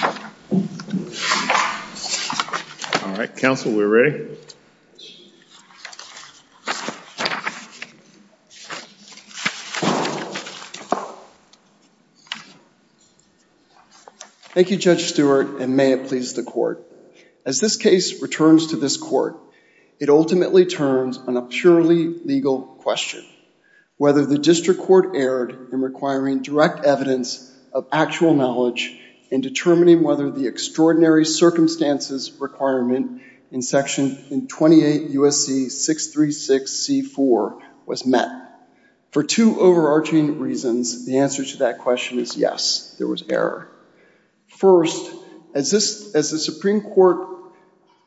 All right, counsel, we're ready. Thank you, Judge Stewart, and may it please the court. As this case returns to this court, it ultimately turns on a purely legal question, whether the district court erred in requiring direct evidence of actual knowledge in determining whether the extraordinary circumstances requirement in Section 28 U.S.C. 636 C-4 was met. For two overarching reasons, the answer to that question is yes, there was error. First, as the Supreme Court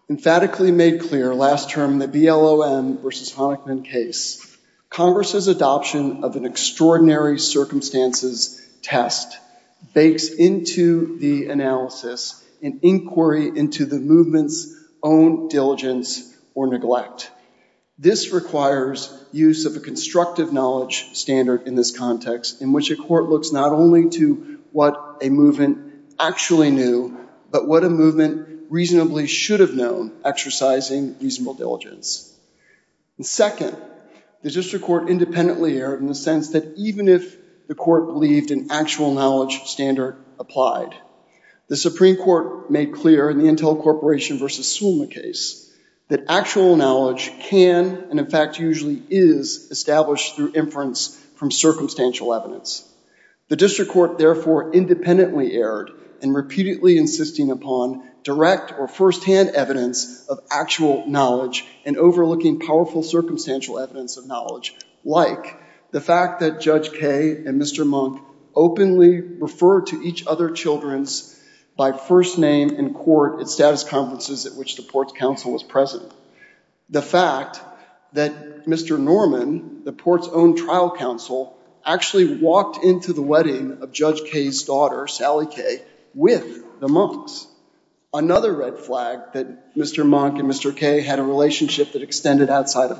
emphatically made clear last term in the BLOM v. Honickman case, Congress's adoption of an extraordinary circumstances test bakes into the analysis an inquiry into the movement's own diligence or neglect. This requires use of a constructive knowledge standard in this context, in which a court looks not only to what a movement actually knew, but what a movement reasonably should have known, exercising reasonable diligence. Second, the district court independently erred in the sense that even if the court believed an actual knowledge standard applied, the Supreme Court made clear in the Intel Corporation v. Sulma case that actual knowledge can, and in fact usually is, established through inference from circumstantial evidence. The district court therefore independently erred in repeatedly insisting upon direct or first-hand evidence of actual knowledge and overlooking powerful circumstantial evidence of knowledge, like the fact that Judge Kaye and Mr. Monk openly referred to each other children's by first name in court at status conferences at which the port's counsel was present. The fact that Mr. Norman, the port's own trial counsel, actually walked into the wedding of Judge Kaye's daughter, Sally Kaye, with the Monks. Another red flag that Mr. Monk and Mr. Kaye had a relationship that extended outside of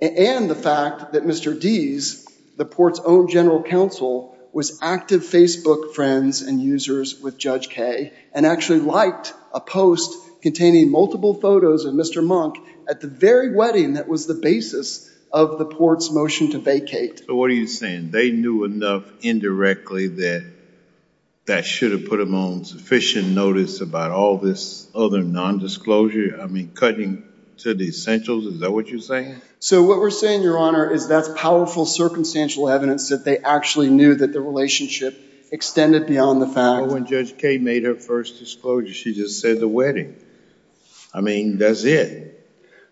And the fact that Mr. Deese, the port's own general counsel, was active Facebook friends and users with Judge Kaye, and actually liked a post containing multiple photos of Mr. Monk at the very wedding that was the basis of the port's motion to vacate. So what are you saying? They knew enough indirectly that that should have put them on sufficient notice about all this other non-disclosure? I mean, cutting to the essentials, is that what you're saying? So what we're saying, Your Honor, is that's powerful circumstantial evidence that they actually knew that the relationship extended beyond the fact Well, when Judge Kaye made her first disclosure, she just said the wedding. I mean, that's it.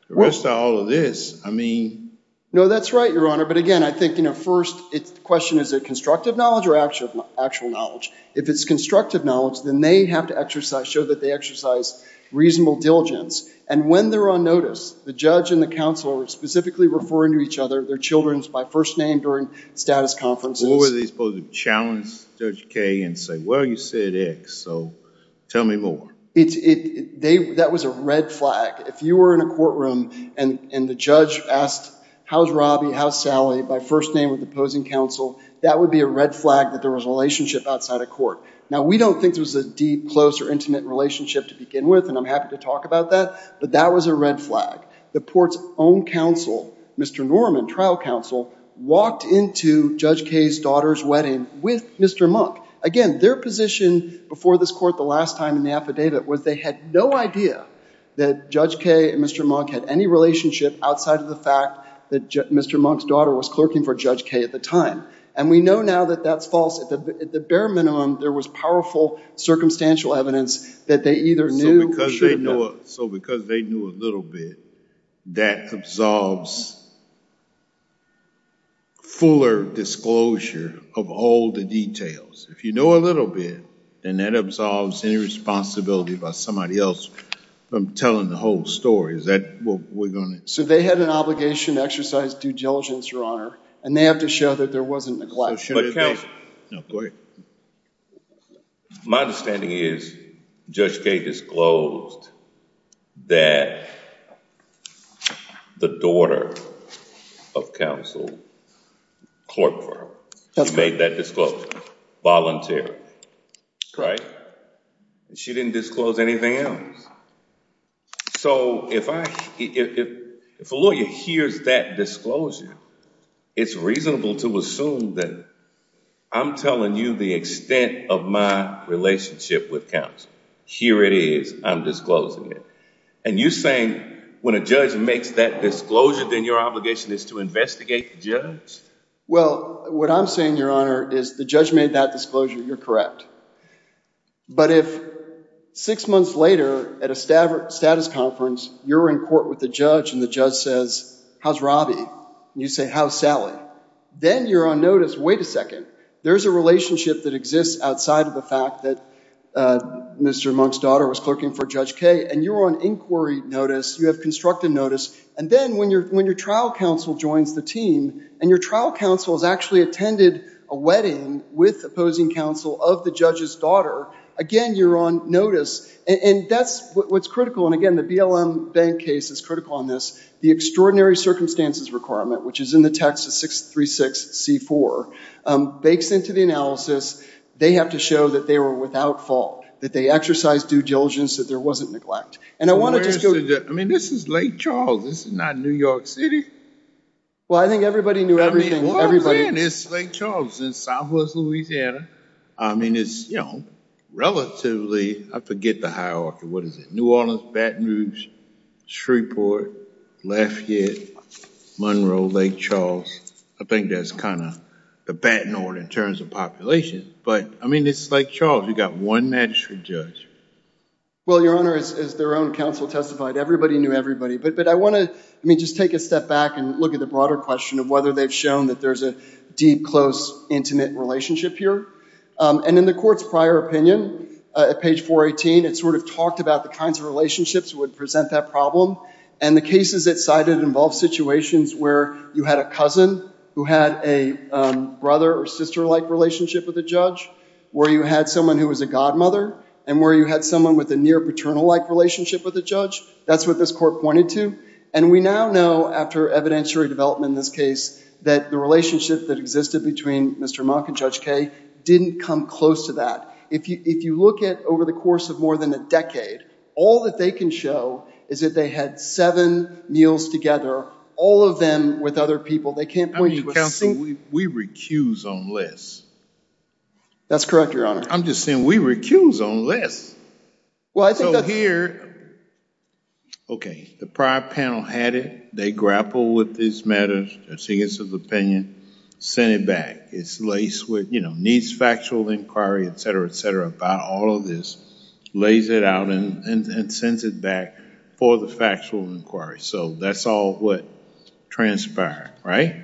The rest of all of this, I mean No, that's right, Your Honor. But again, I think, you know, first, the question is, is it constructive knowledge or actual knowledge? If it's constructive knowledge, then they have to exercise, show that they exercise reasonable diligence. And when they're on notice, the judge and the counsel are specifically referring to each other, their children's by first name during status conferences. What were they supposed to do? Challenge Judge Kaye and say, well, you said X, so tell me more. That was a red flag. If you were in a courtroom and the judge asked, how's Robbie, how's Sally, by first name with the opposing counsel, that would be a red flag that there was a relationship outside a court. Now, we don't think there was a deep, close, or intimate relationship to begin with, and I'm happy to talk about that, but that was a red flag. The court's own counsel, Mr. Norman, trial counsel, walked into Judge Kaye's daughter's wedding with Mr. Monk. Again, their position before this court the last time in the affidavit was they had no idea that Judge Kaye and Mr. Monk had any relationship outside of the fact that Mr. Monk's daughter was clerking for Judge Kaye at the time. And we know now that that's false. At the bare minimum, there was powerful circumstantial evidence that they either knew or should have So because they knew a little bit, that absolves fuller disclosure of all the details. If you know a little bit, then that absolves any responsibility by somebody else from telling the whole story. Is that what we're going to... So they had an obligation to exercise due diligence, Your Honor, and they have to show that there wasn't neglect. But counsel... No, go ahead. My understanding is Judge Kaye disclosed that the daughter of counsel clerked for her. She made that disclosure voluntarily, right? And she didn't disclose anything else. So if a lawyer hears that disclosure, it's reasonable to assume that I'm telling you the extent of my relationship with counsel. Here it is. I'm disclosing it. And you're saying when a judge makes that disclosure, then your obligation is to investigate the judge? Well, what I'm saying, Your Honor, is the judge made that disclosure, you're correct. But if six months later at a status conference, you're in court with the judge and the judge says, how's Robbie? You say, how's Sally? Then you're on notice, wait a second. There's a relationship that exists outside of the fact that Mr. Monk's daughter was clerking for Judge Kaye. And you're on inquiry notice, you have constructed notice. And then when your trial counsel joins the team, and your trial counsel has actually attended a wedding with opposing counsel of the judge's daughter, again, you're on notice. And that's what's critical. And again, the BLM bank case is critical on this. The extraordinary circumstances requirement, which is in the text of 636C4, bakes into the analysis. They have to show that they were without fault, that they exercised due diligence, that there wasn't neglect. And I want to just go to- I mean, this is Lake Charles. This is not New York City. Well, I think everybody knew everything. I mean, what I'm saying is Lake Charles is southwest Louisiana. I mean, it's relatively, I forget the hierarchy, what is it? New Orleans, Baton Rouge, Shreveport, Lafayette, Monroe, Lake Charles. I think that's kind of the Baton Horde in terms of population. But I mean, it's Lake Charles. You've got one magistrate judge. Well, Your Honor, as their own counsel testified, everybody knew everybody. But I want to, I mean, just take a step back and look at the broader question of whether they've shown that there's a deep, close, intimate relationship here. And in the court's prior opinion, at page 418, it sort of talked about the kinds of relationships that would present that problem. And the cases it cited involved situations where you had a cousin who had a brother or sister-like relationship with a judge, where you had someone who was a godmother, and where you had someone with a near-paternal-like relationship with a judge. That's what this court pointed to. And we now know, after evidentiary development in this case, that the relationship that existed between Mr. Monk and Judge Kaye didn't come close to that. If you look at over the course of more than a decade, all that they can show is that they had seven meals together, all of them with other people. They can't point you to a single... I mean, counsel, we recuse on less. That's correct, Your Honor. I'm just saying, we recuse on less. Well, I think that... So here, okay, the prior panel had it. They grappled with this matter, their significance of opinion, sent it back. It's laced with, you know, needs factual inquiry, et cetera, et cetera, about all of this. Lays it out and sends it back for the factual inquiry. So that's all what transpired, right?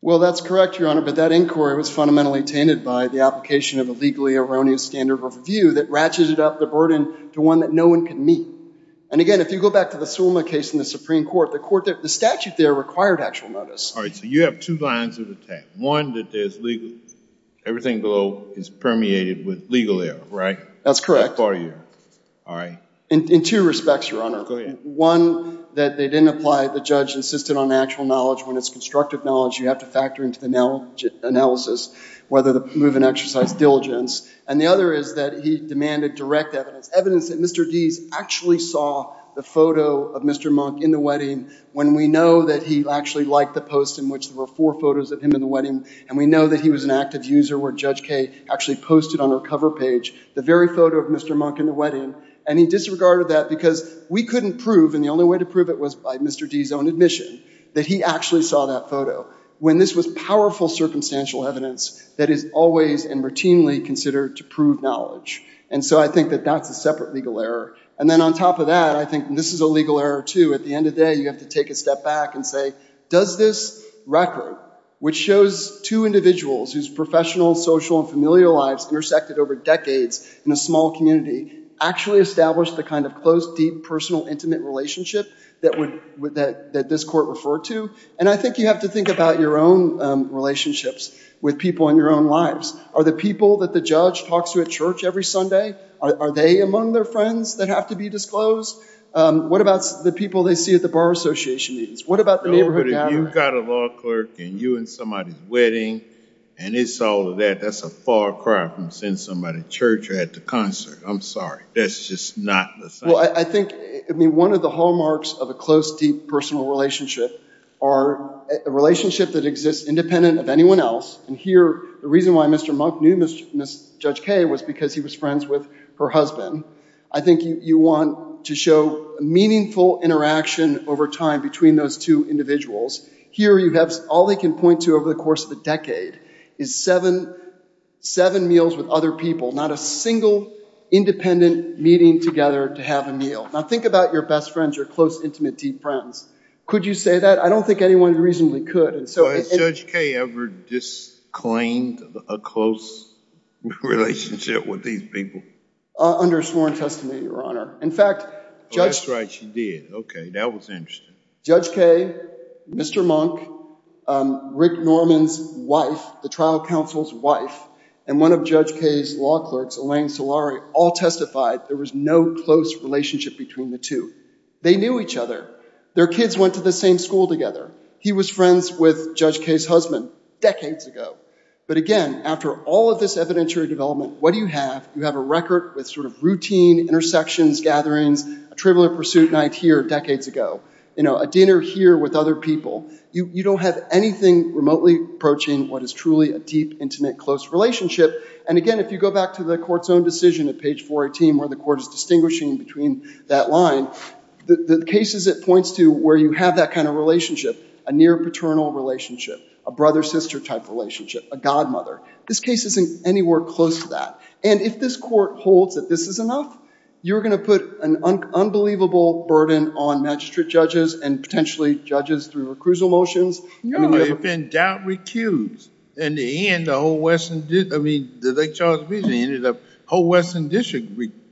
Well, that's correct, Your Honor, but that inquiry was fundamentally tainted by the application of a legally erroneous standard of review that ratcheted up the burden to one that no one could meet. And again, if you go back to the Sulma case in the Supreme Court, the statute there required actual notice. All right, so you have two lines of attack. One, that there's legal... Everything below is permeated with legal error, right? That's correct. In two respects, Your Honor. One, that they didn't apply... The judge insisted on actual knowledge. When it's constructive knowledge, you have to factor into the analysis whether the move was an exercise of diligence. And the other is that he demanded direct evidence. Evidence that Mr. Deese actually saw the photo of Mr. Monk in the wedding, when we know that he actually liked the post in which there were four photos of him in the wedding, and we know that he was an active user where Judge Kaye actually posted on her cover page the very photo of Mr. Monk in the wedding, and he disregarded that because we couldn't prove, and the only way to prove it was by Mr. Deese's own admission, that he actually saw that photo, when this was powerful circumstantial evidence that is always and routinely considered to prove knowledge. And so I think that that's a separate legal error. And then on top of that, I think this is a legal error, too. At the end of the day, you have to take a step back and say, does this record, which shows two individuals whose professional, social, and familial lives intersected over decades in a small community, actually establish the kind of close, deep, personal, intimate relationship that this court referred to? And I think you have to think about your own relationships with people in your own lives. Are the people that the judge talks to at church every Sunday, are they among their friends that have to be disclosed? What about the people they see at the bar association meetings? What about the neighborhood gathering? No, but if you've got a law clerk and you're in somebody's wedding, and it's all of that, that's a far cry from seeing somebody at church or at the concert. I'm sorry. That's just not the same. Well, I think one of the hallmarks of a close, deep, personal relationship are a relationship that exists independent of anyone else. And here, the reason why Mr. Monk knew Ms. Judge Kaye was because he was friends with her husband. I think you want to show meaningful interaction over time between those two individuals. Here you have all they can point to over the course of a decade is seven meals with other people, not a single independent meeting together to have a meal. Now think about your best friends, your close, intimate, deep friends. Could you say that? I don't think anyone reasonably could. Has Judge Kaye ever disclaimed a close relationship with these people? Under sworn testimony, Your Honor. Oh, that's right, she did. Okay, that was interesting. Judge Kaye, Mr. Monk, Rick Norman's wife, the trial counsel's wife, and one of Judge Kaye's law clerks, Elaine Solari, all testified there was no close relationship between the two. They knew each other. Their kids went to the same school together. He was friends with Judge Kaye's husband decades ago. But again, after all of this evidentiary development, what do you have? You have a record with sort of routine intersections, gatherings, a trivial pursuit night here decades ago, a dinner here with other people. You don't have anything remotely approaching what is truly a deep, intimate, close relationship. And again, if you go back to the court's own decision at page 418 where the court is distinguishing between that line, the cases it points to where you have that kind of relationship, a near paternal relationship, a brother-sister type relationship, a godmother, this case isn't anywhere close to that. And if this court holds that this is enough, you're going to put an unbelievable burden on magistrate judges and potentially judges through recusal motions. If in doubt, recuse. In the end, the Lake Charles Division ended up, the whole Western District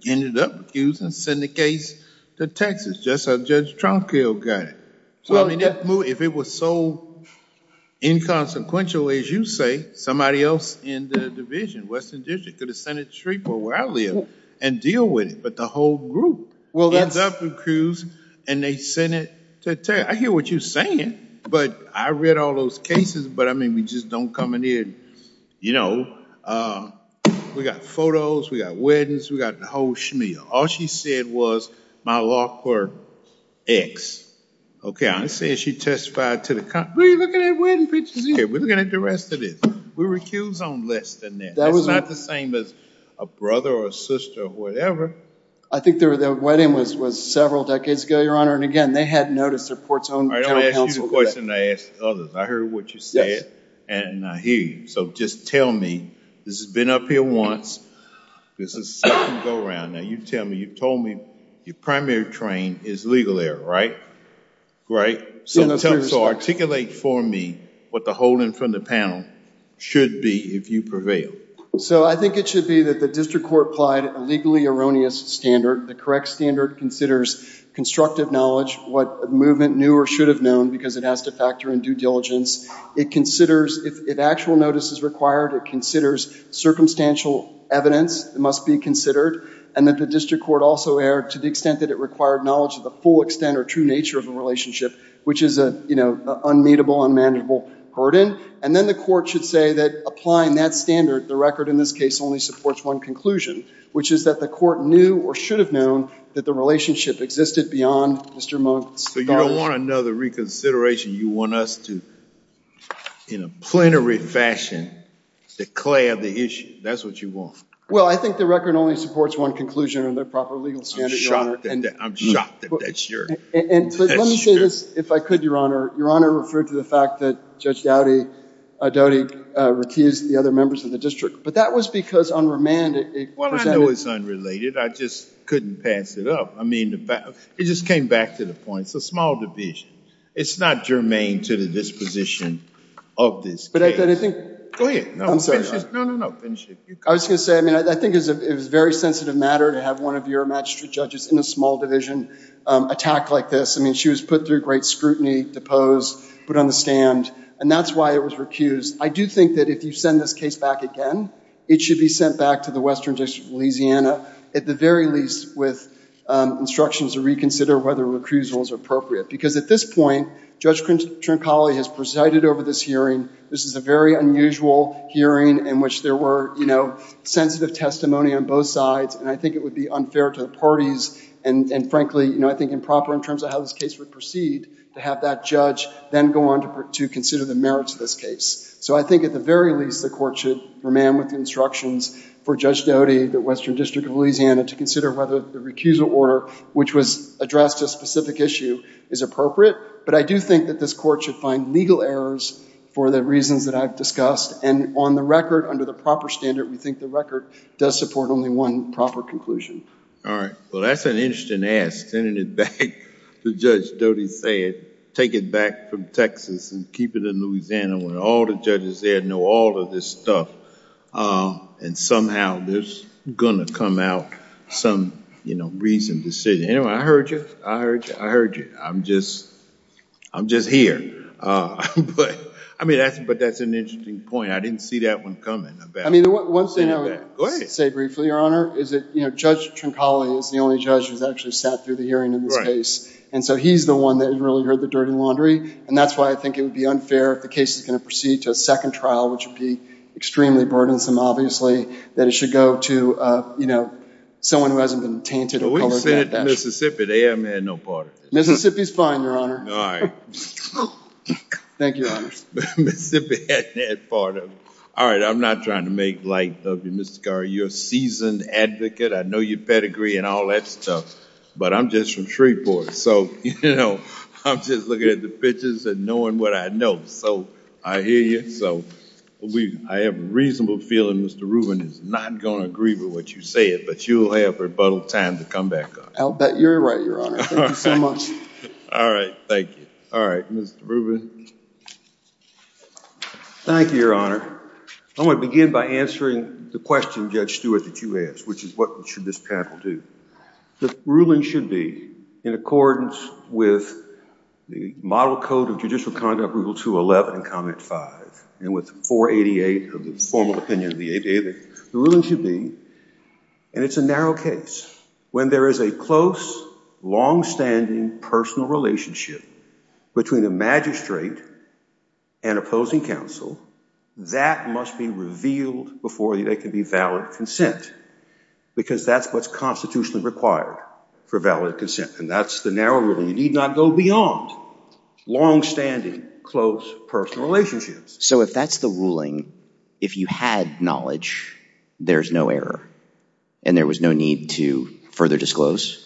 ended up recusing the case to Texas, just like Judge Tronquil got it. If it was so inconsequential as you say, somebody else in the division, Western District, could have sent it to Shreveport where I live and deal with it. But the whole group ends up recused and they send it to Texas. I hear what you're saying, but I read all those cases, but I mean we just don't come in here and, you know, we got photos, we got weddings, we got the whole schmeal. All she said was my law court ex. Okay, I'm saying she testified to the contrary. We're looking at wedding pictures here. We're looking at the rest of this. We recuse on less than that. It's not the same as a brother or a sister or whatever. I think their wedding was several decades ago, Your Honor, and again, they had noticed their port's own counsel. I don't ask you the question. I ask others. I heard what you said and I hear you. So just tell me. This has been up here once. This is a second go around. Now you tell me, you told me your primary train is legal error, right? Right? So articulate for me what the whole in front of the panel should be if you prevail. So I think it should be that the district court applied a legally erroneous standard. The correct standard considers constructive knowledge, what movement knew or should have known because it has to factor in due diligence. It considers if actual notice is required, it considers circumstantial evidence must be considered, and that the district court also err to the extent that it required knowledge of the full extent or true nature of a relationship, which is a, you know, unmeetable, unmanageable burden. And then the court should say that applying that standard, the record in this case only supports one conclusion, which is that the court knew or should have known that the relationship existed beyond Mr. Monk's knowledge. So you don't want another reconsideration. You want us to, in a plenary fashion, declare the issue. That's what you want. Well, I think the record only supports one conclusion on the proper legal standard, I'm shocked that that's your... Let me say this, if I could, Your Honor. Your Honor referred to the fact that Judge Doughty recused the other members of the district, but that was because on remand... Well, I know it's unrelated. I just couldn't pass it up. I mean, it just came back to the point. It's a small division. It's not germane to the disposition of this case. But I think... Go ahead. No, finish it. No, no, no, finish it. I was going to say, I mean, I think it was a very sensitive matter to have one of your magistrate judges in a small division attack like this. I mean, she was put through great scrutiny, deposed, put on the stand, and that's why it was recused. I do think that if you send this case back again, it should be sent back to the Western District of Louisiana, at the very least with instructions to reconsider whether recusal is appropriate. Because at this point, Judge Trincali has presided over this hearing. This is a very unusual hearing in which there were sensitive testimony on both sides, and I think it would be unfair to the parties, and frankly, I think improper in terms of how this case would proceed to have that judge then go on to consider the merits of this case. So I think at the very least the court should remain with the instructions for Judge Doty, the Western District of Louisiana, to consider whether the recusal order, which was addressed to a specific issue, is appropriate. But I do think that this court should find legal errors for the reasons that I've discussed. And on the record, under the proper standard, we think the record does support only one proper conclusion. All right. Well, that's an interesting ask, sending it back to Judge Doty, take it back from Texas and keep it in Louisiana where all the judges there know all of this stuff, and somehow there's going to come out some reasoned decision. Anyway, I heard you. I heard you. I'm just here. But that's an interesting point. I didn't see that one coming. I mean, one thing I would say briefly, Your Honor, is that Judge Trincoli is the only judge who's actually sat through the hearing in this case. And so he's the one that really heard the dirty laundry. And that's why I think it would be unfair if the case is going to proceed to a second trial, which would be extremely burdensome, obviously, that it should go to someone who hasn't been tainted or colored that dash. We said Mississippi. They haven't had no part of it. Mississippi's fine, Your Honor. All right. Thank you, Your Honor. Mississippi hasn't had part of it. All right. I'm not trying to make light of you, Mr. Carr. You're a seasoned advocate. I know your pedigree and all that stuff. But I'm just from Shreveport. So I'm just looking at the pictures and knowing what I know. So I hear you. So I have a reasonable feeling Mr. Rubin is not going to agree with what you said, but you'll have rebuttal time to come back on it. You're right, Your Honor. Thank you so much. All right. Thank you. All right. Mr. Rubin. Thank you, Your Honor. I'm going to begin by answering the question, Judge Stewart, that you asked, which is what should this panel do. The ruling should be in accordance with the model code of judicial conduct, Rule 211 and Comment 5, and with 488 of the formal opinion of the ADA. The ruling should be, and it's a narrow case, when there is a close, longstanding personal relationship between a magistrate and opposing counsel, that must be revealed before there can be valid consent, because that's what's constitutionally required for valid consent, and that's the narrow ruling. You need not go beyond longstanding close personal relationships. So if that's the ruling, if you had knowledge, there's no error, and there was no need to further disclose?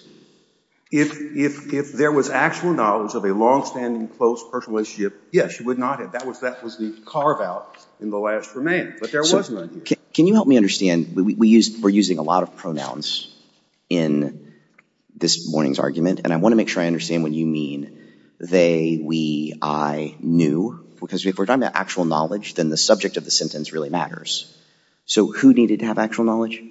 If there was actual knowledge of a longstanding close personal relationship, yes, you would not have. That was the carve-out in the last remainder, but there was none here. Can you help me understand? We're using a lot of pronouns in this morning's argument, and I want to make sure I understand what you mean, they, we, I, knew, because if we're talking about actual knowledge, then the subject of the sentence really matters. So who needed to have actual knowledge?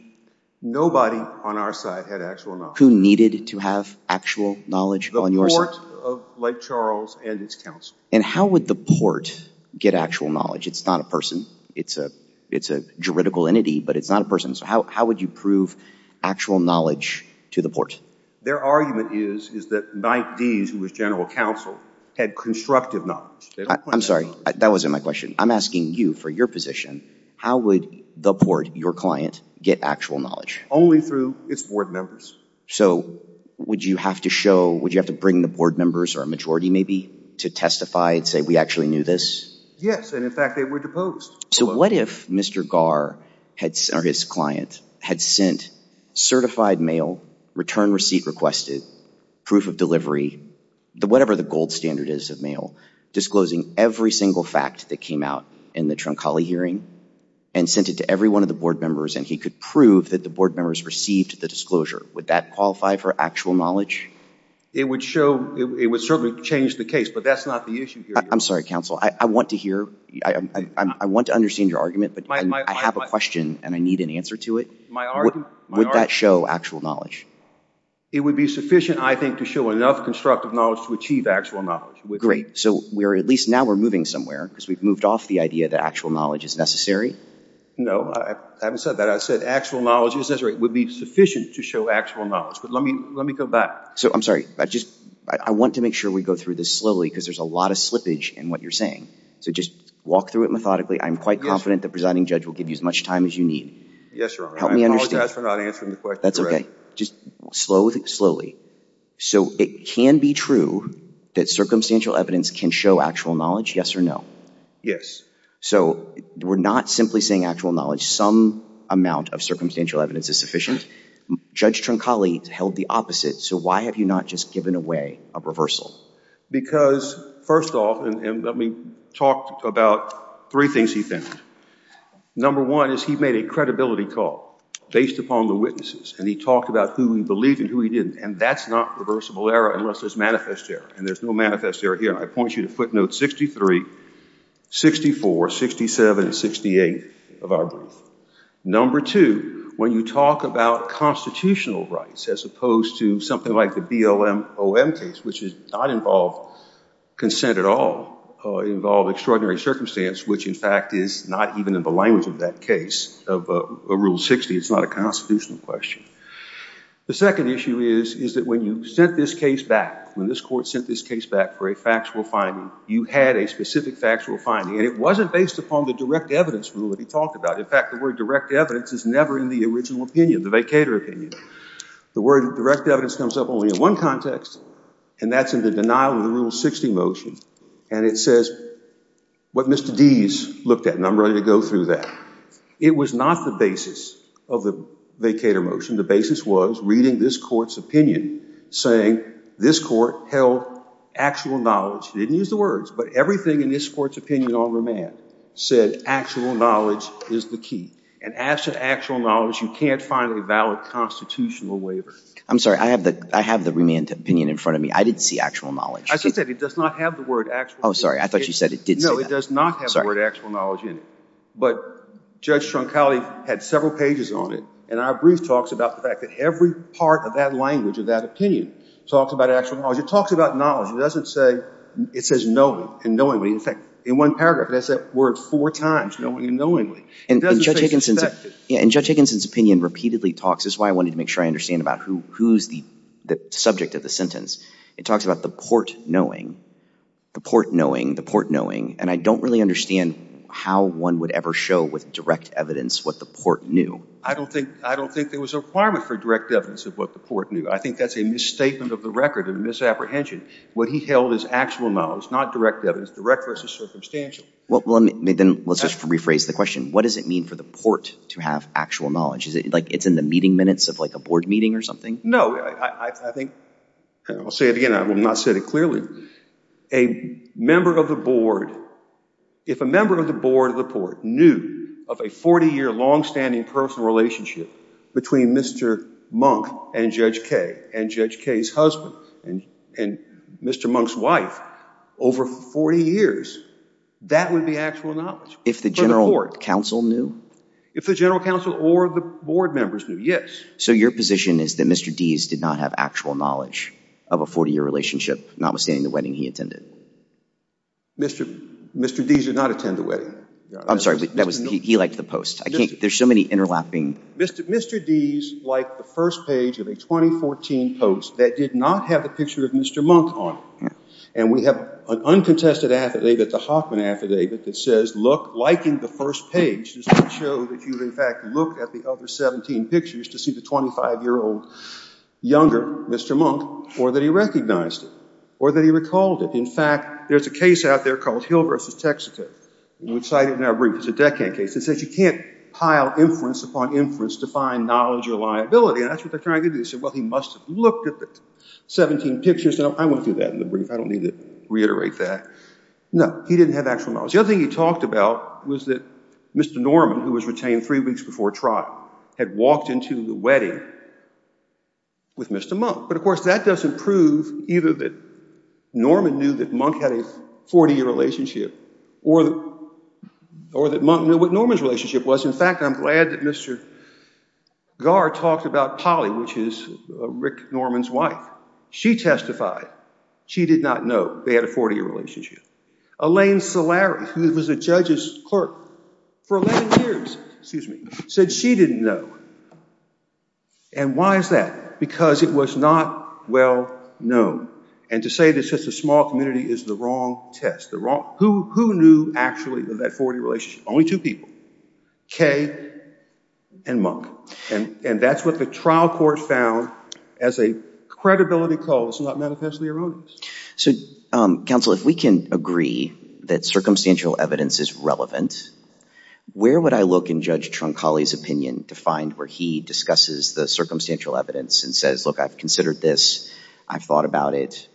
Nobody on our side had actual knowledge. Who needed to have actual knowledge on your side? The Port of Lake Charles and its counsel. And how would the Port get actual knowledge? It's not a person. It's a, it's a juridical entity, but it's not a person. So how, how would you prove actual knowledge to the Port? Their argument is, is that Mike Dees, who was general counsel, had constructive knowledge. I'm sorry, that wasn't my question. I'm asking you for your position. How would the Port, your client, get actual knowledge? Only through its board members. So would you have to show, would you have to bring the board members, or a majority maybe, to testify and say, we actually knew this? Yes, and in fact they were deposed. So what if Mr. Garr, or his client, had sent certified mail, return receipt requested, proof of delivery, whatever the gold standard is of mail, disclosing every single fact that came out in the Troncalli hearing, and sent it to every one of the board members, and he could prove that the board members received the disclosure. Would that qualify for actual knowledge? It would show, it would certainly change the case, but that's not the issue here. I'm sorry, counsel. I want to hear, I want to understand your argument, but I have a question, and I need an answer to it. Would that show actual knowledge? It would be sufficient, I think, to show enough constructive knowledge to achieve actual knowledge. Great. So we're, at least now we're moving somewhere, because we've moved off the idea that actual knowledge is necessary. No. I haven't said that. I said actual knowledge is necessary. It would be sufficient to show actual knowledge. But let me go back. So I'm sorry. I just, I want to make sure we go through this slowly, because there's a lot of slippage in what you're saying. So just walk through it methodically. I'm quite confident the presiding judge will give you as much time as you need. Yes, Your Honor. Help me understand. I apologize for not answering the question correctly. That's okay. Just slowly. So it can be true that circumstantial evidence can show actual knowledge, yes or no? Yes. So we're not simply saying actual knowledge. Some amount of circumstantial evidence is sufficient. Judge Trincali held the opposite. So why have you not just given away a reversal? Because, first off, and let me talk about three things he found. Number one is he made a credibility call based upon the witnesses, and he talked about who he believed and who he didn't, and that's not reversible error unless there's manifest error, and there's no manifest error here. I point you to footnotes 63, 64, 67, and 68 of our brief. Number two, when you talk about constitutional rights, as opposed to something like the BLM-OM case, which does not involve consent at all, or involve extraordinary circumstance, which, in fact, is not even in the language of that case, of Rule 60. It's not a constitutional question. The second issue is that when you sent this case back, for a factual finding, you had a specific factual finding, and it wasn't based upon the direct evidence rule that he talked about. In fact, the word direct evidence is never in the original opinion, the vacator opinion. The word direct evidence comes up only in one context, and that's in the denial of the Rule 60 motion, and it says what Mr. Deese looked at, and I'm ready to go through that. It was not the basis of the vacator motion. The basis was reading this court's opinion, saying this court held actual knowledge. He didn't use the words, but everything in this court's opinion on remand said actual knowledge is the key, and as to actual knowledge, you can't find a valid constitutional waiver. I'm sorry. I have the remand opinion in front of me. I didn't see actual knowledge. I said it does not have the word actual. Oh, sorry. I thought you said it did say that. No, it does not have the word actual knowledge in it, but Judge Troncali had several pages on it, and our brief talks about the fact that every part of that language of that opinion talks about actual knowledge. It talks about knowledge. It doesn't say it says knowing and knowingly. In fact, in one paragraph, it has that word four times, knowing and knowingly. And Judge Higginson's opinion repeatedly talks, this is why I wanted to make sure I understand about who's the subject of the sentence. It talks about the port knowing, the port knowing, the port knowing, and I don't really understand how one would ever show with direct evidence what the port knew. I don't think there was a requirement for direct evidence of what the port knew. I think that's a misstatement of the record and misapprehension. What he held as actual knowledge, not direct evidence, direct versus circumstantial. Well, then let's just rephrase the question. What does it mean for the port to have actual knowledge? Is it like it's in the meeting minutes of like a board meeting or something? No. I think I'll say it again. I will not say it clearly. A member of the board, if a member of the board of the port knew of a 40-year, longstanding personal relationship between Mr. Monk and Judge Kaye and Judge Kaye's husband and Mr. Monk's wife over 40 years, that would be actual knowledge for the port. If the general counsel knew? If the general counsel or the board members knew, yes. So your position is that Mr. Deese did not have actual knowledge of a 40-year relationship, notwithstanding the wedding he attended? Mr. Deese did not attend the wedding. I'm sorry. He liked the post. There's so many interlapping. Mr. Deese liked the first page of a 2014 post that did not have the picture of Mr. Monk on it. And we have an uncontested affidavit, the Hoffman affidavit, that says, look, liking the first page is to show that you, in fact, looked at the other 17 pictures to see the 25-year-old younger Mr. Monk or that he recognized it or that he recalled it. In fact, there's a case out there called Hill v. Texaco. We cited it in our brief. It's a Deccan case. It says you can't pile inference upon inference to find knowledge or liability, and that's what they're trying to do. They said, well, he must have looked at the 17 pictures. I won't do that in the brief. I don't need to reiterate that. No, he didn't have actual knowledge. The other thing he talked about was that Mr. Norman, who was retained three weeks before trial, had walked into the wedding with Mr. Monk. But, of course, that doesn't prove either that Norman knew that Monk had a 40-year relationship or that Monk knew what Norman's relationship was. In fact, I'm glad that Mr. Garr talked about Polly, which is Rick Norman's wife. She testified she did not know they had a 40-year relationship. Elaine Solari, who was a judge's clerk for 11 years, said she didn't know. And why is that? Because it was not well known. And to say this is a small community is the wrong test. Who knew, actually, of that 40-year relationship? Only two people, Kay and Monk. And that's what the trial court found as a credibility cause, not manifestly erroneous. So, counsel, if we can agree that circumstantial evidence is relevant, where would I look in Judge Troncalli's opinion to find where he discusses the circumstantial evidence and says, look, I've considered this, I've thought about it,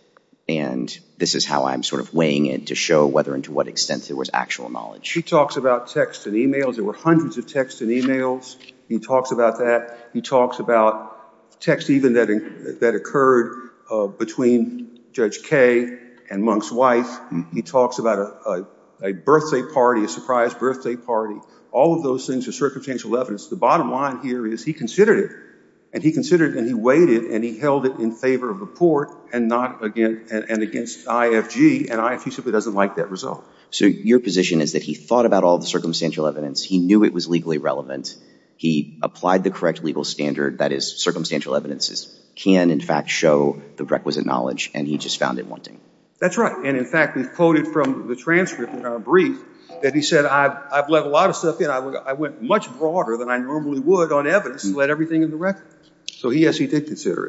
and this is how I'm sort of weighing it to show whether and to what extent there was actual knowledge. He talks about text and e-mails. There were hundreds of texts and e-mails. He talks about that. He talks about texts even that occurred between Judge Kay and Monk's wife. He talks about a birthday party, a surprise birthday party. All of those things are circumstantial evidence. The bottom line here is he considered it, and he considered it and he weighed it, and he held it in favor of the court and against IFG, and IFG simply doesn't like that result. So your position is that he thought about all the circumstantial evidence, he knew it was legally relevant, he applied the correct legal standard, that is circumstantial evidence can, in fact, show the requisite knowledge, and he just found it wanting. That's right. And, in fact, we've quoted from the transcript in our brief that he said, I've let a lot of stuff in. I went much broader than I normally would on evidence and let everything in the record. So, yes, he did consider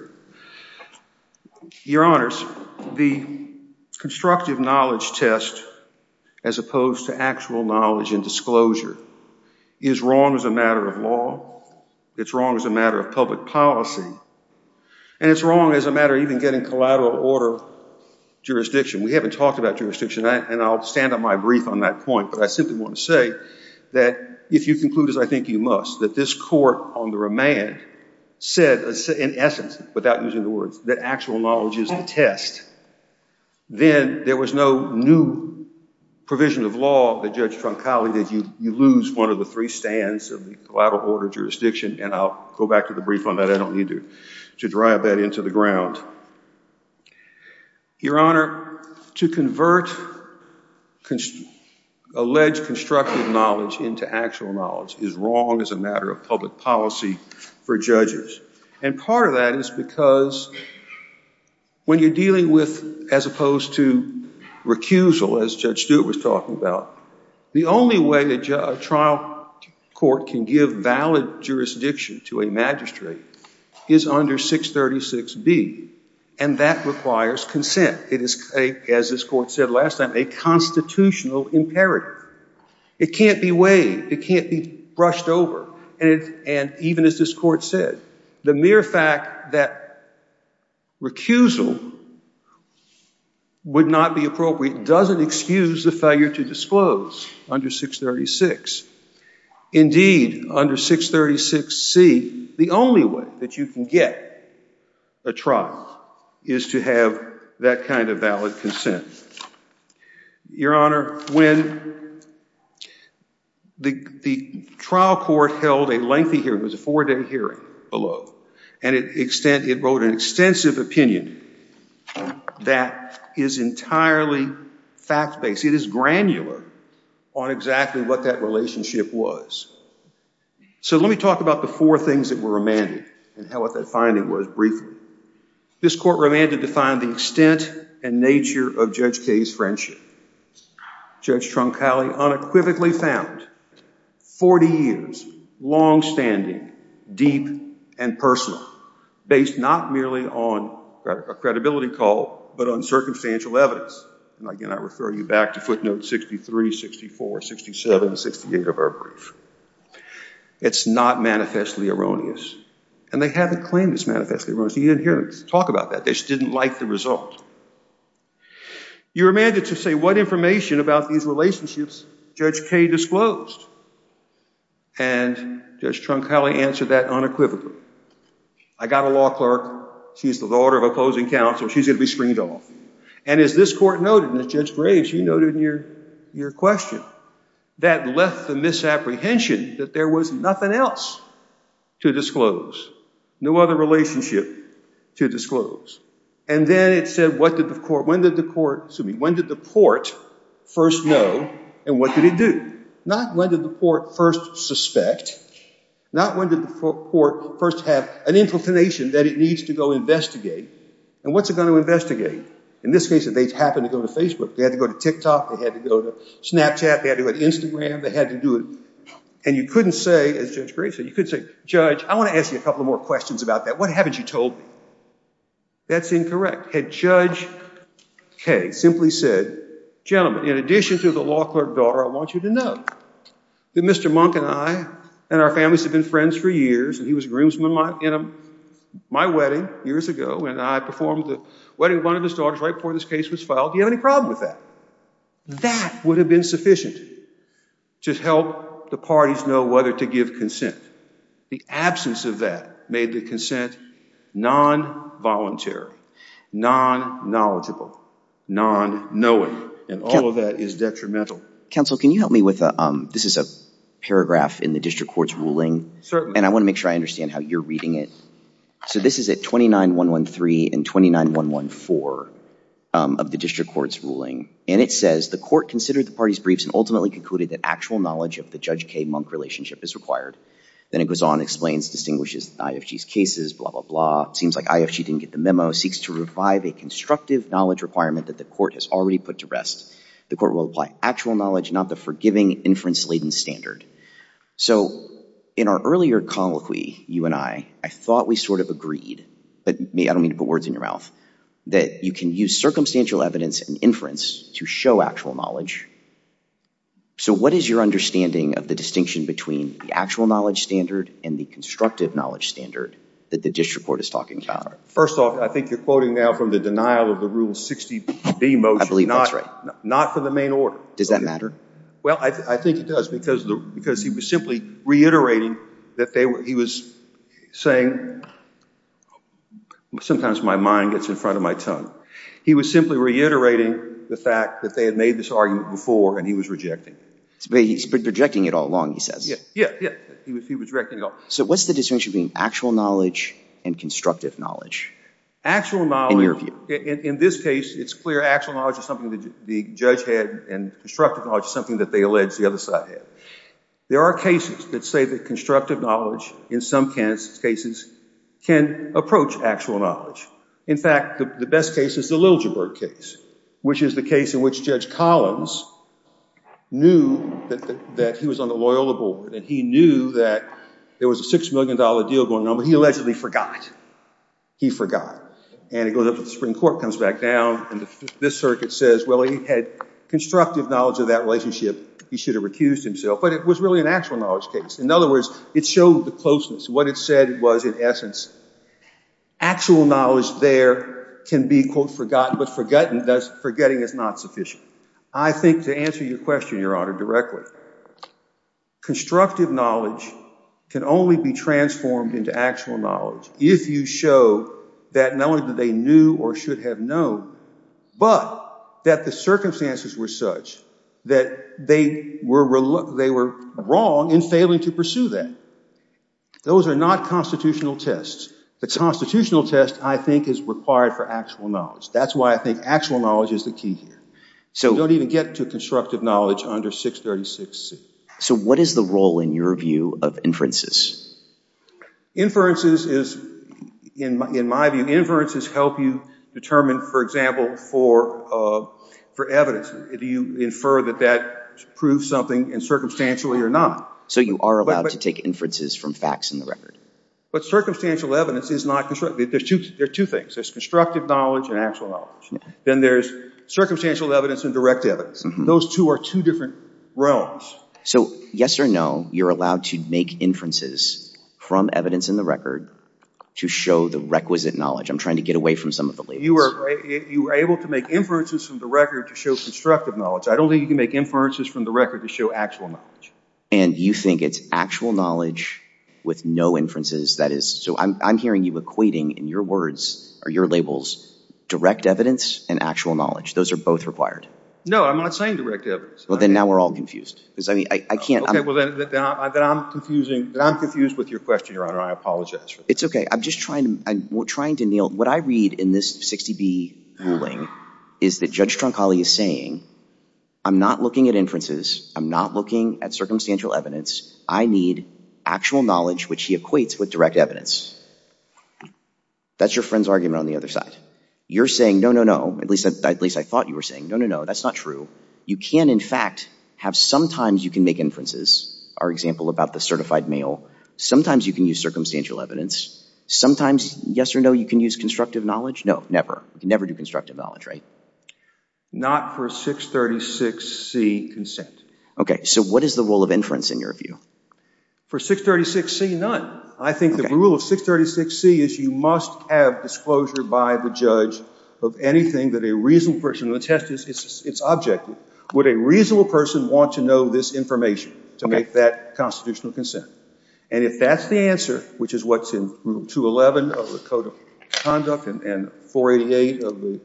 it. Your Honors, the constructive knowledge test as opposed to actual knowledge and disclosure is wrong as a matter of law, it's wrong as a matter of public policy, and it's wrong as a matter of even getting collateral order jurisdiction. We haven't talked about jurisdiction, and I'll stand on my brief on that point, but I simply want to say that if you conclude as I think you must, that this court on the remand said, in essence, without using the words, that actual knowledge is the test, then there was no new provision of law that Judge Troncale did. You lose one of the three stands of the collateral order jurisdiction, and I'll go back to the brief on that. I don't need to drive that into the ground. Your Honor, to convert alleged constructive knowledge into actual knowledge is wrong as a matter of public policy for judges, and part of that is because when you're dealing with, as opposed to recusal, as Judge Stewart was talking about, the only way a trial court can give valid jurisdiction to a magistrate is under 636B, and that requires consent. It is, as this court said last time, a constitutional imperative. It can't be waived. It can't be brushed over, and even as this court said, the mere fact that recusal would not be appropriate doesn't excuse the failure to disclose under 636. Indeed, under 636C, the only way that you can get a trial is to have that kind of valid consent. Your Honor, when the trial court held a lengthy hearing, it was a four-day hearing below, and it wrote an extensive opinion that is entirely fact-based. It is granular on exactly what that relationship was. So let me talk about the four things that were remanded and what that finding was briefly. This court remanded to find the extent and nature of Judge Kaye's friendship. Judge Troncale unequivocally found 40 years, longstanding, deep, and personal, based not merely on a credibility call but on circumstantial evidence. And again, I refer you back to footnotes 63, 64, 67, and 68 of our brief. It's not manifestly erroneous, and they haven't claimed it's manifestly erroneous. You didn't hear us talk about that. They just didn't like the result. You remanded to say what information about these relationships Judge Kaye disclosed, and Judge Troncale answered that unequivocally. I got a law clerk. She's the daughter of a opposing counsel. She's going to be screened off. And as this court noted, and as Judge Graves, you noted in your question, that left the misapprehension that there was nothing else to disclose, no other relationship to disclose. And then it said, when did the court first know, and what did it do? Not when did the court first suspect, not when did the court first have an inclination that it needs to go investigate. And what's it going to investigate? In this case, they happened to go to Facebook. They had to go to TikTok. They had to go to Snapchat. They had to go to Instagram. They had to do it. And you couldn't say, as Judge Graves said, you couldn't say, Judge, I want to ask you a couple more questions about that. What haven't you told me? That's incorrect. Had Judge Kaye simply said, gentlemen, in addition to the law clerk daughter, I want you to know that Mr. Monk and I and our families have been friends for years, and he was a groomsman at my wedding years ago, and I performed the wedding of one of his daughters right before this case was filed. Do you have any problem with that? That would have been sufficient to help the parties know whether to give consent. The absence of that made the consent non-voluntary, non-knowledgeable, non-knowing, and all of that is detrimental. Counsel, can you help me with a – this is a paragraph in the district court's ruling. Certainly. And I want to make sure I understand how you're reading it. So this is at 29.113 and 29.114 of the district court's ruling, and it says, the court considered the parties' briefs and ultimately concluded that actual knowledge of the Judge Kaye-Monk relationship is required. Then it goes on, explains, distinguishes IFG's cases, blah, blah, blah. Seems like IFG didn't get the memo. Seeks to revive a constructive knowledge requirement that the court has already put to rest. The court will apply actual knowledge, not the forgiving inference-laden standard. So in our earlier colloquy, you and I, I thought we sort of agreed, but I don't mean to put words in your mouth, that you can use circumstantial evidence and inference to show actual knowledge. So what is your understanding of the distinction between the actual knowledge standard and the constructive knowledge standard that the district court is talking about? First off, I think you're quoting now from the denial of the Rule 60B motion. I believe that's right. Not for the main order. Does that matter? Well, I think it does because he was simply reiterating that they were, he was saying, sometimes my mind gets in front of my tongue. He was simply reiterating the fact that they had made this argument before and he was rejecting it. He's been rejecting it all along, he says. Yeah, yeah, yeah. He was rejecting it all. So what's the distinction between actual knowledge and constructive knowledge in your view? Actual knowledge, in this case, it's clear, the judge had and constructive knowledge is something that they allege the other side had. There are cases that say that constructive knowledge in some cases can approach actual knowledge. In fact, the best case is the Liljeburg case, which is the case in which Judge Collins knew that he was on the Loyola board and he knew that there was a $6 million deal going on, but he allegedly forgot. He forgot. And it goes up to the Supreme Court, comes back down, and this circuit says, well, he had constructive knowledge of that relationship. He should have recused himself, but it was really an actual knowledge case. In other words, it showed the closeness. What it said was, in essence, actual knowledge there can be, quote, forgotten, but forgetting is not sufficient. I think to answer your question, Your Honor, directly, constructive knowledge can only be transformed into actual knowledge if you show that not only do they knew or should have known, but that the circumstances were such that they were wrong in failing to pursue that. Those are not constitutional tests. The constitutional test, I think, is required for actual knowledge. That's why I think actual knowledge is the key here. You don't even get to constructive knowledge under 636C. So what is the role, in your view, of inferences? Inferences is, in my view, inferences help you determine, for example, for evidence. Do you infer that that proves something circumstantially or not? So you are allowed to take inferences from facts in the record. But circumstantial evidence is not constructive. There are two things. There's constructive knowledge and actual knowledge. Then there's circumstantial evidence and direct evidence. Those two are two different realms. So yes or no, you're allowed to make inferences from evidence in the record to show the requisite knowledge. I'm trying to get away from some of the labels. You are able to make inferences from the record to show constructive knowledge. I don't think you can make inferences from the record to show actual knowledge. And you think it's actual knowledge with no inferences, that is. So I'm hearing you equating in your words, or your labels, direct evidence and actual knowledge. Those are both required. No, I'm not saying direct evidence. Well, then now we're all confused. Because, I mean, I can't. OK, well, then I'm confusing. Then I'm confused with your question, Your Honor. I apologize for this. It's OK. I'm just trying to kneel. What I read in this 60B ruling is that Judge Troncalli is saying, I'm not looking at inferences. I'm not looking at circumstantial evidence. I need actual knowledge, which he equates with direct evidence. That's your friend's argument on the other side. You're saying, no, no, no. At least I thought you were saying, no, no, no. That's not true. You can, in fact, have sometimes you can make inferences. Our example about the certified male. Sometimes you can use circumstantial evidence. Sometimes, yes or no, you can use constructive knowledge. No, never. You can never do constructive knowledge, right? Not for 636C consent. OK, so what is the rule of inference in your view? For 636C, none. I think the rule of 636C is you must have disclosure by the judge of anything that a reasonable person will attest to. It's objective. Would a reasonable person want to know this information to make that constitutional consent? And if that's the answer, which is what's in Rule 211 of the Code of Conduct and 488 of the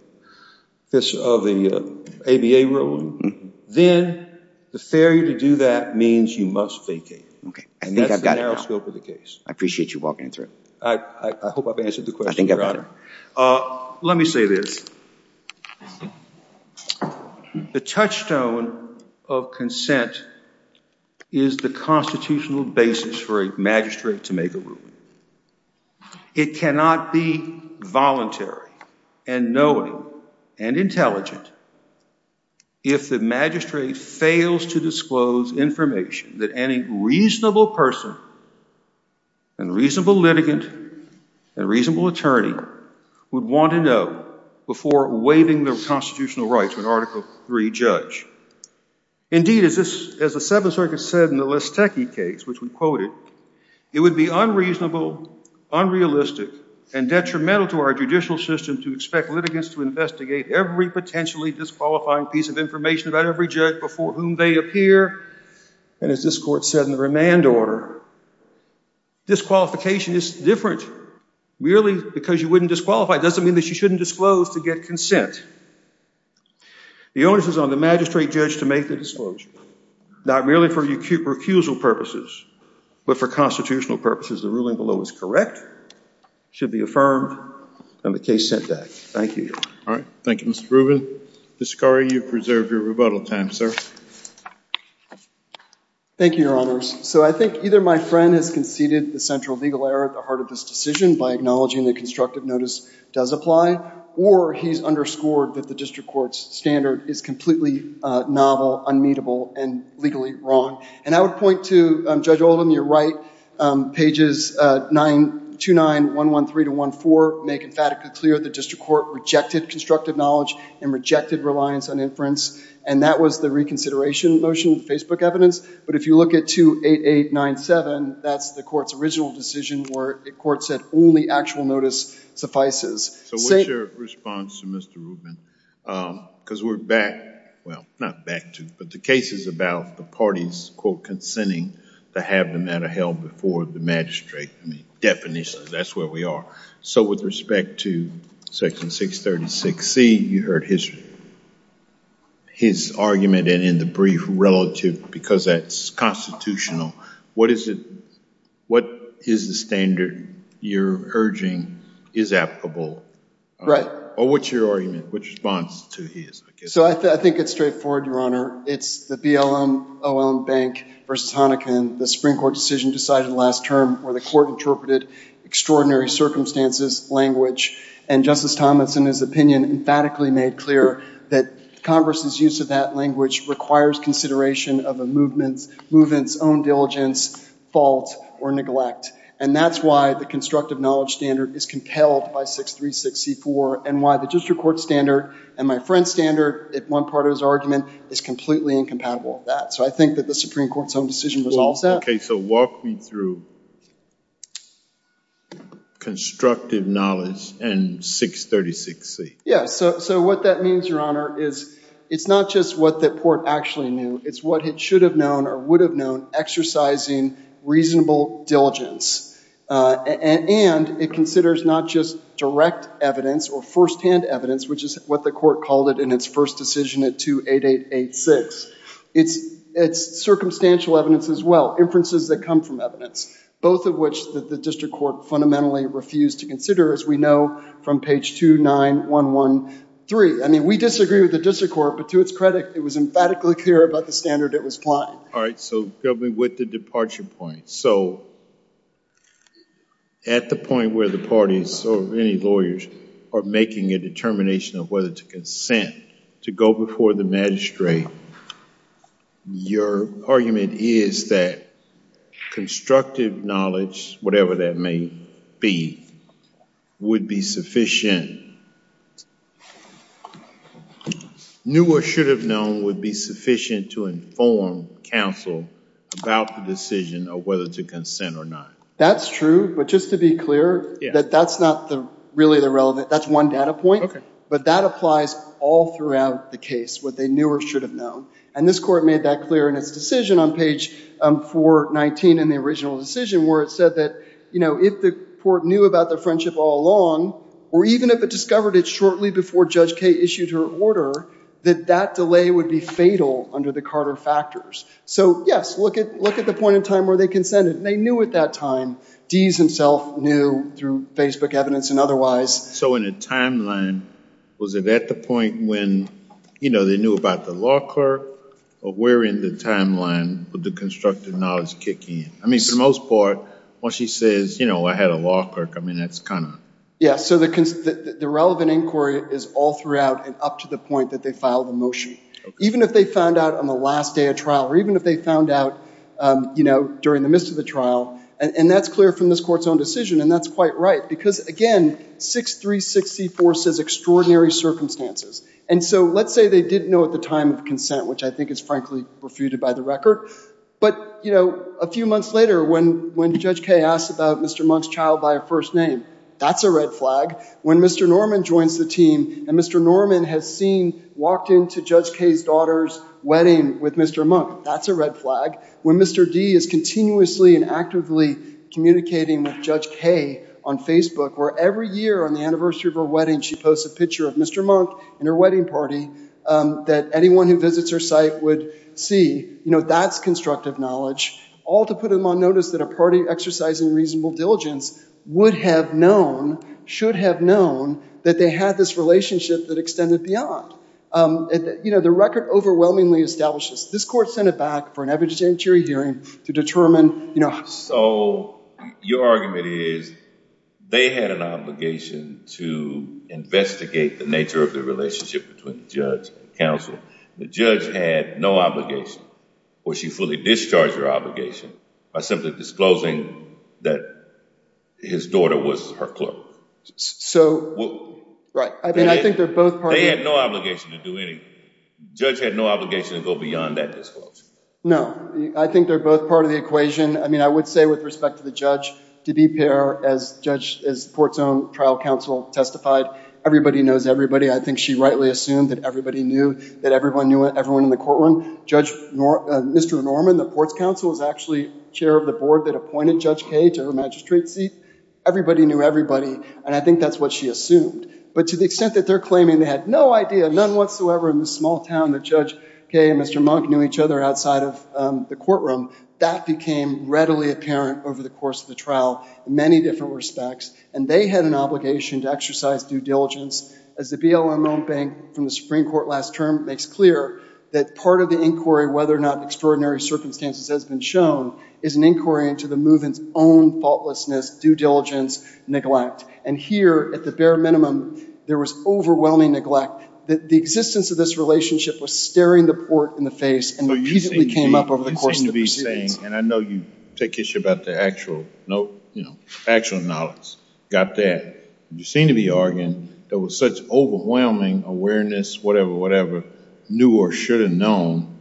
ABA rule, then the failure to do that means you must vacate. OK, I think I've got it now. And that's the narrow scope of the case. I appreciate you walking it through. I hope I've answered the question, Your Honor. Let me say this. The touchstone of consent is the constitutional basis for a magistrate to make a ruling. It cannot be voluntary and knowing and intelligent if the magistrate fails to disclose information that any reasonable person and reasonable litigant and reasonable attorney would want to know before waiving the constitutional rights of an Article III judge. Indeed, as the Seventh Circuit said in the Listecki case, which we quoted, it would be unreasonable, unrealistic, and detrimental to our judicial system to expect litigants to investigate every potentially disqualifying piece of information about every judge before whom they appear. And as this Court said in the remand order, disqualification is different. Merely because you wouldn't disqualify doesn't mean that you shouldn't disclose to get consent. The onus is on the magistrate judge to make the disclosure, not merely for recusal purposes, but for constitutional purposes. The ruling below is correct, should be affirmed, and the case sent back. Thank you, Your Honor. All right. Thank you, Mr. Rubin. Mr. Scari, you've preserved your rebuttal time, sir. Thank you, Your Honors. So I think either my friend has conceded the central legal error at the heart of this decision by acknowledging that constructive notice does apply, or he's underscored that the district court's standard is completely novel, unmeetable, and legally wrong. And I would point to, Judge Oldham, you're right. Pages 2-9, 1-1-3 to 1-4 make emphatically clear that the district court rejected constructive knowledge and rejected reliance on inference. And that was the reconsideration motion, the Facebook evidence. But if you look at 2-8-8-9-7, that's the court's original decision where the court said only actual notice suffices. So what's your response to Mr. Rubin? Because we're back, well, not back to, but the case is about the parties, quote, consenting to have the matter held before the magistrate. Definition, that's where we are. So with respect to Section 636C, you heard his argument. And in the brief relative, because that's constitutional, what is the standard you're urging is applicable? Right. Or what's your argument? What's your response to his? So I think it's straightforward, Your Honor. It's the BLM-OLM Bank v. Honikin, the Supreme Court decision decided last term where the court interpreted extraordinary circumstances language. And Justice Thomas, in his opinion, emphatically made clear that Congress's use of that language requires consideration of a movement's own diligence, fault, or neglect. And that's why the constructive knowledge standard is compelled by 636C-4 and why the district court standard and my friend's standard, at one part of his argument, is completely incompatible with that. So I think that the Supreme Court's own decision was all set. Okay. So walk me through constructive knowledge and 636C. Yeah, so what that means, Your Honor, is it's not just what the court actually knew. It's what it should have known or would have known exercising reasonable diligence. And it considers not just direct evidence or firsthand evidence, which is what the court called it in its first decision at 28886. It's circumstantial evidence as well, inferences that come from evidence, both of which the district court fundamentally refused to consider, as we know from page 29113. I mean, we disagree with the district court, but to its credit, it was emphatically clear about the standard it was applying. All right. So help me with the departure point. So at the point where the parties or any lawyers are making a determination of whether to consent to go before the magistrate, your argument is that constructive knowledge, whatever that may be, would be sufficient. Knew or should have known would be sufficient to inform counsel about the decision of whether to consent or not. That's true, but just to be clear, that that's not really the relevant. That's one data point, but that applies all throughout the case, what they knew or should have known. And this court made that clear in its decision on page 419 in the original decision where it said that if the court knew about their friendship all along, or even if it discovered it shortly before Judge Kaye issued her order, that that delay would be fatal under the Carter factors. So yes, look at the point in time where they consented. They knew at that time. Dees himself knew through Facebook evidence and otherwise. So in a timeline, was it at the point when they knew about the law clerk, or where in the timeline would the constructive knowledge kick in? I mean, for the most part, when she says, you know, I had a law clerk, I mean, that's kind of... Yes, so the relevant inquiry is all throughout and up to the point that they file the motion. Even if they found out on the last day of trial, or even if they found out during the midst of the trial, and that's clear from this court's own decision, and that's quite right. Because, again, 6364 says extraordinary circumstances. And so let's say they didn't know at the time of consent, which I think is frankly refuted by the record. But, you know, a few months later, when Judge Kaye asks about Mr. Monk's child by a first name, that's a red flag. When Mr. Norman joins the team, and Mr. Norman has seen walked into Judge Kaye's daughter's wedding with Mr. Monk, that's a red flag. When Mr. Dee is continuously and actively communicating with Judge Kaye on Facebook, where every year on the anniversary of her wedding she posts a picture of Mr. Monk and her wedding party, that anyone who visits her site would see, you know, that's constructive knowledge. All to put them on notice that a party exercising reasonable diligence would have known, should have known, that they had this relationship that extended beyond. You know, the record overwhelmingly establishes this. This court sent it back for an evidentiary hearing to determine, you know... So your argument is they had an obligation to investigate the nature of the relationship between the judge and counsel. The judge had no obligation, or she fully discharged her obligation, by simply disclosing that his daughter was her clerk. So, right. I mean, I think they're both part of... They had no obligation to do anything. The judge had no obligation to go beyond that disclosure. No. I think they're both part of the equation. I mean, I would say with respect to the judge, to be fair, as the court's own trial counsel testified, everybody knows everybody. I think she rightly assumed that everybody knew, that everyone knew everyone in the courtroom. Mr. Norman, the court's counsel, was actually chair of the board that appointed Judge Kay to her magistrate seat. Everybody knew everybody, and I think that's what she assumed. But to the extent that they're claiming they had no idea, none whatsoever, in this small town that Judge Kay and Mr. Monk knew each other outside of the courtroom, that became readily apparent over the course of the trial in many different respects. And they had an obligation to exercise due diligence, as the BLM own bank from the Supreme Court last term makes clear, that part of the inquiry, whether or not extraordinary circumstances has been shown, is an inquiry into the movement's own faultlessness, due diligence, neglect. And here, at the bare minimum, there was overwhelming neglect. The existence of this relationship was staring the court in the face and repeatedly came up over the course of the proceedings. So you seem to be saying, and I know you take issue about the actual, no, you know, actual knowledge. Got that. You seem to be arguing there was such overwhelming awareness, whatever, whatever, knew or should have known,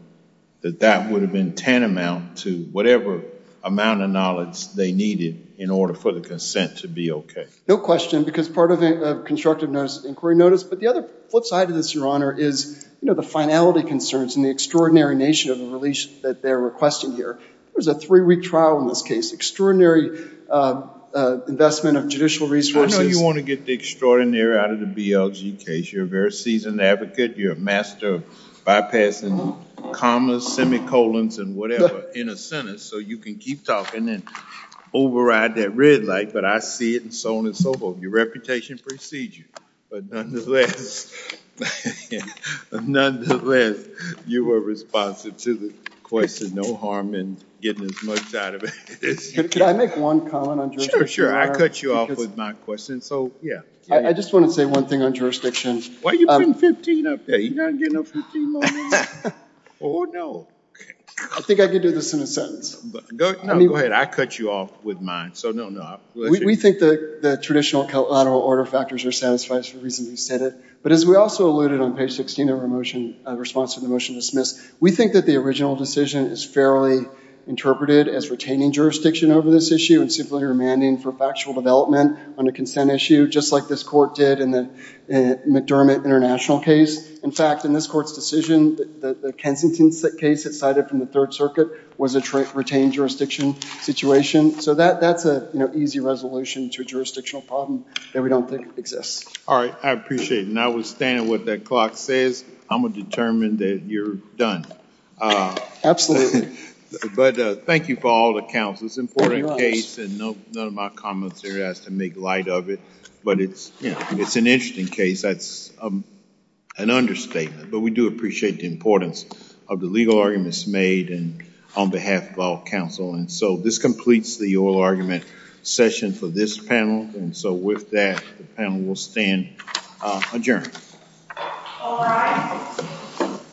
that that would have been tantamount to whatever amount of knowledge they needed in order for the consent to be okay. No question, because part of a constructive inquiry notice, but the other flip side of this, Your Honor, is the finality concerns and the extraordinary nature of the release that they're requesting here. There was a three-week trial in this case. Extraordinary investment of judicial resources. I know you want to get the extraordinary out of the BLG case. You're a very seasoned advocate. You're a master of bypassing commas, semicolons, and whatever in a sentence, so you can keep talking and override that red light. But I see it, and so on and so forth. Your reputation precedes you. But nonetheless, you were responsive to the question. No harm in getting as much out of it as you can. Could I make one comment on jurisdiction? Sure, sure. I cut you off with my question, so, yeah. I just want to say one thing on jurisdiction. Why are you putting 15 up there? You're not getting a 15 moment? Oh, no. I think I could do this in a sentence. No, go ahead. I cut you off with mine, so no, no. We think the traditional collateral order factors are satisfied, for the reason you said it. But as we also alluded on page 16 of our response to the motion dismissed, we think that the original decision is fairly interpreted as retaining jurisdiction over this issue and simply remanding for factual development on a consent issue, just like this court did in the McDermott International case. In fact, in this court's decision, the Kensington case it cited from the Third Circuit was a retained jurisdiction situation. So that's an easy resolution to a jurisdictional problem that we don't think exists. All right. I appreciate it. And I will stand on what that clock says. I'm going to determine that you're done. Absolutely. But thank you for all the counsel. It's an important case, and none of my comments here has to make light of it. But it's an interesting case. That's an understatement. But we do appreciate the importance of the legal arguments made and on behalf of all counsel. And so this completes the oral argument session for this panel. And so with that, the panel will stand adjourned. All rise.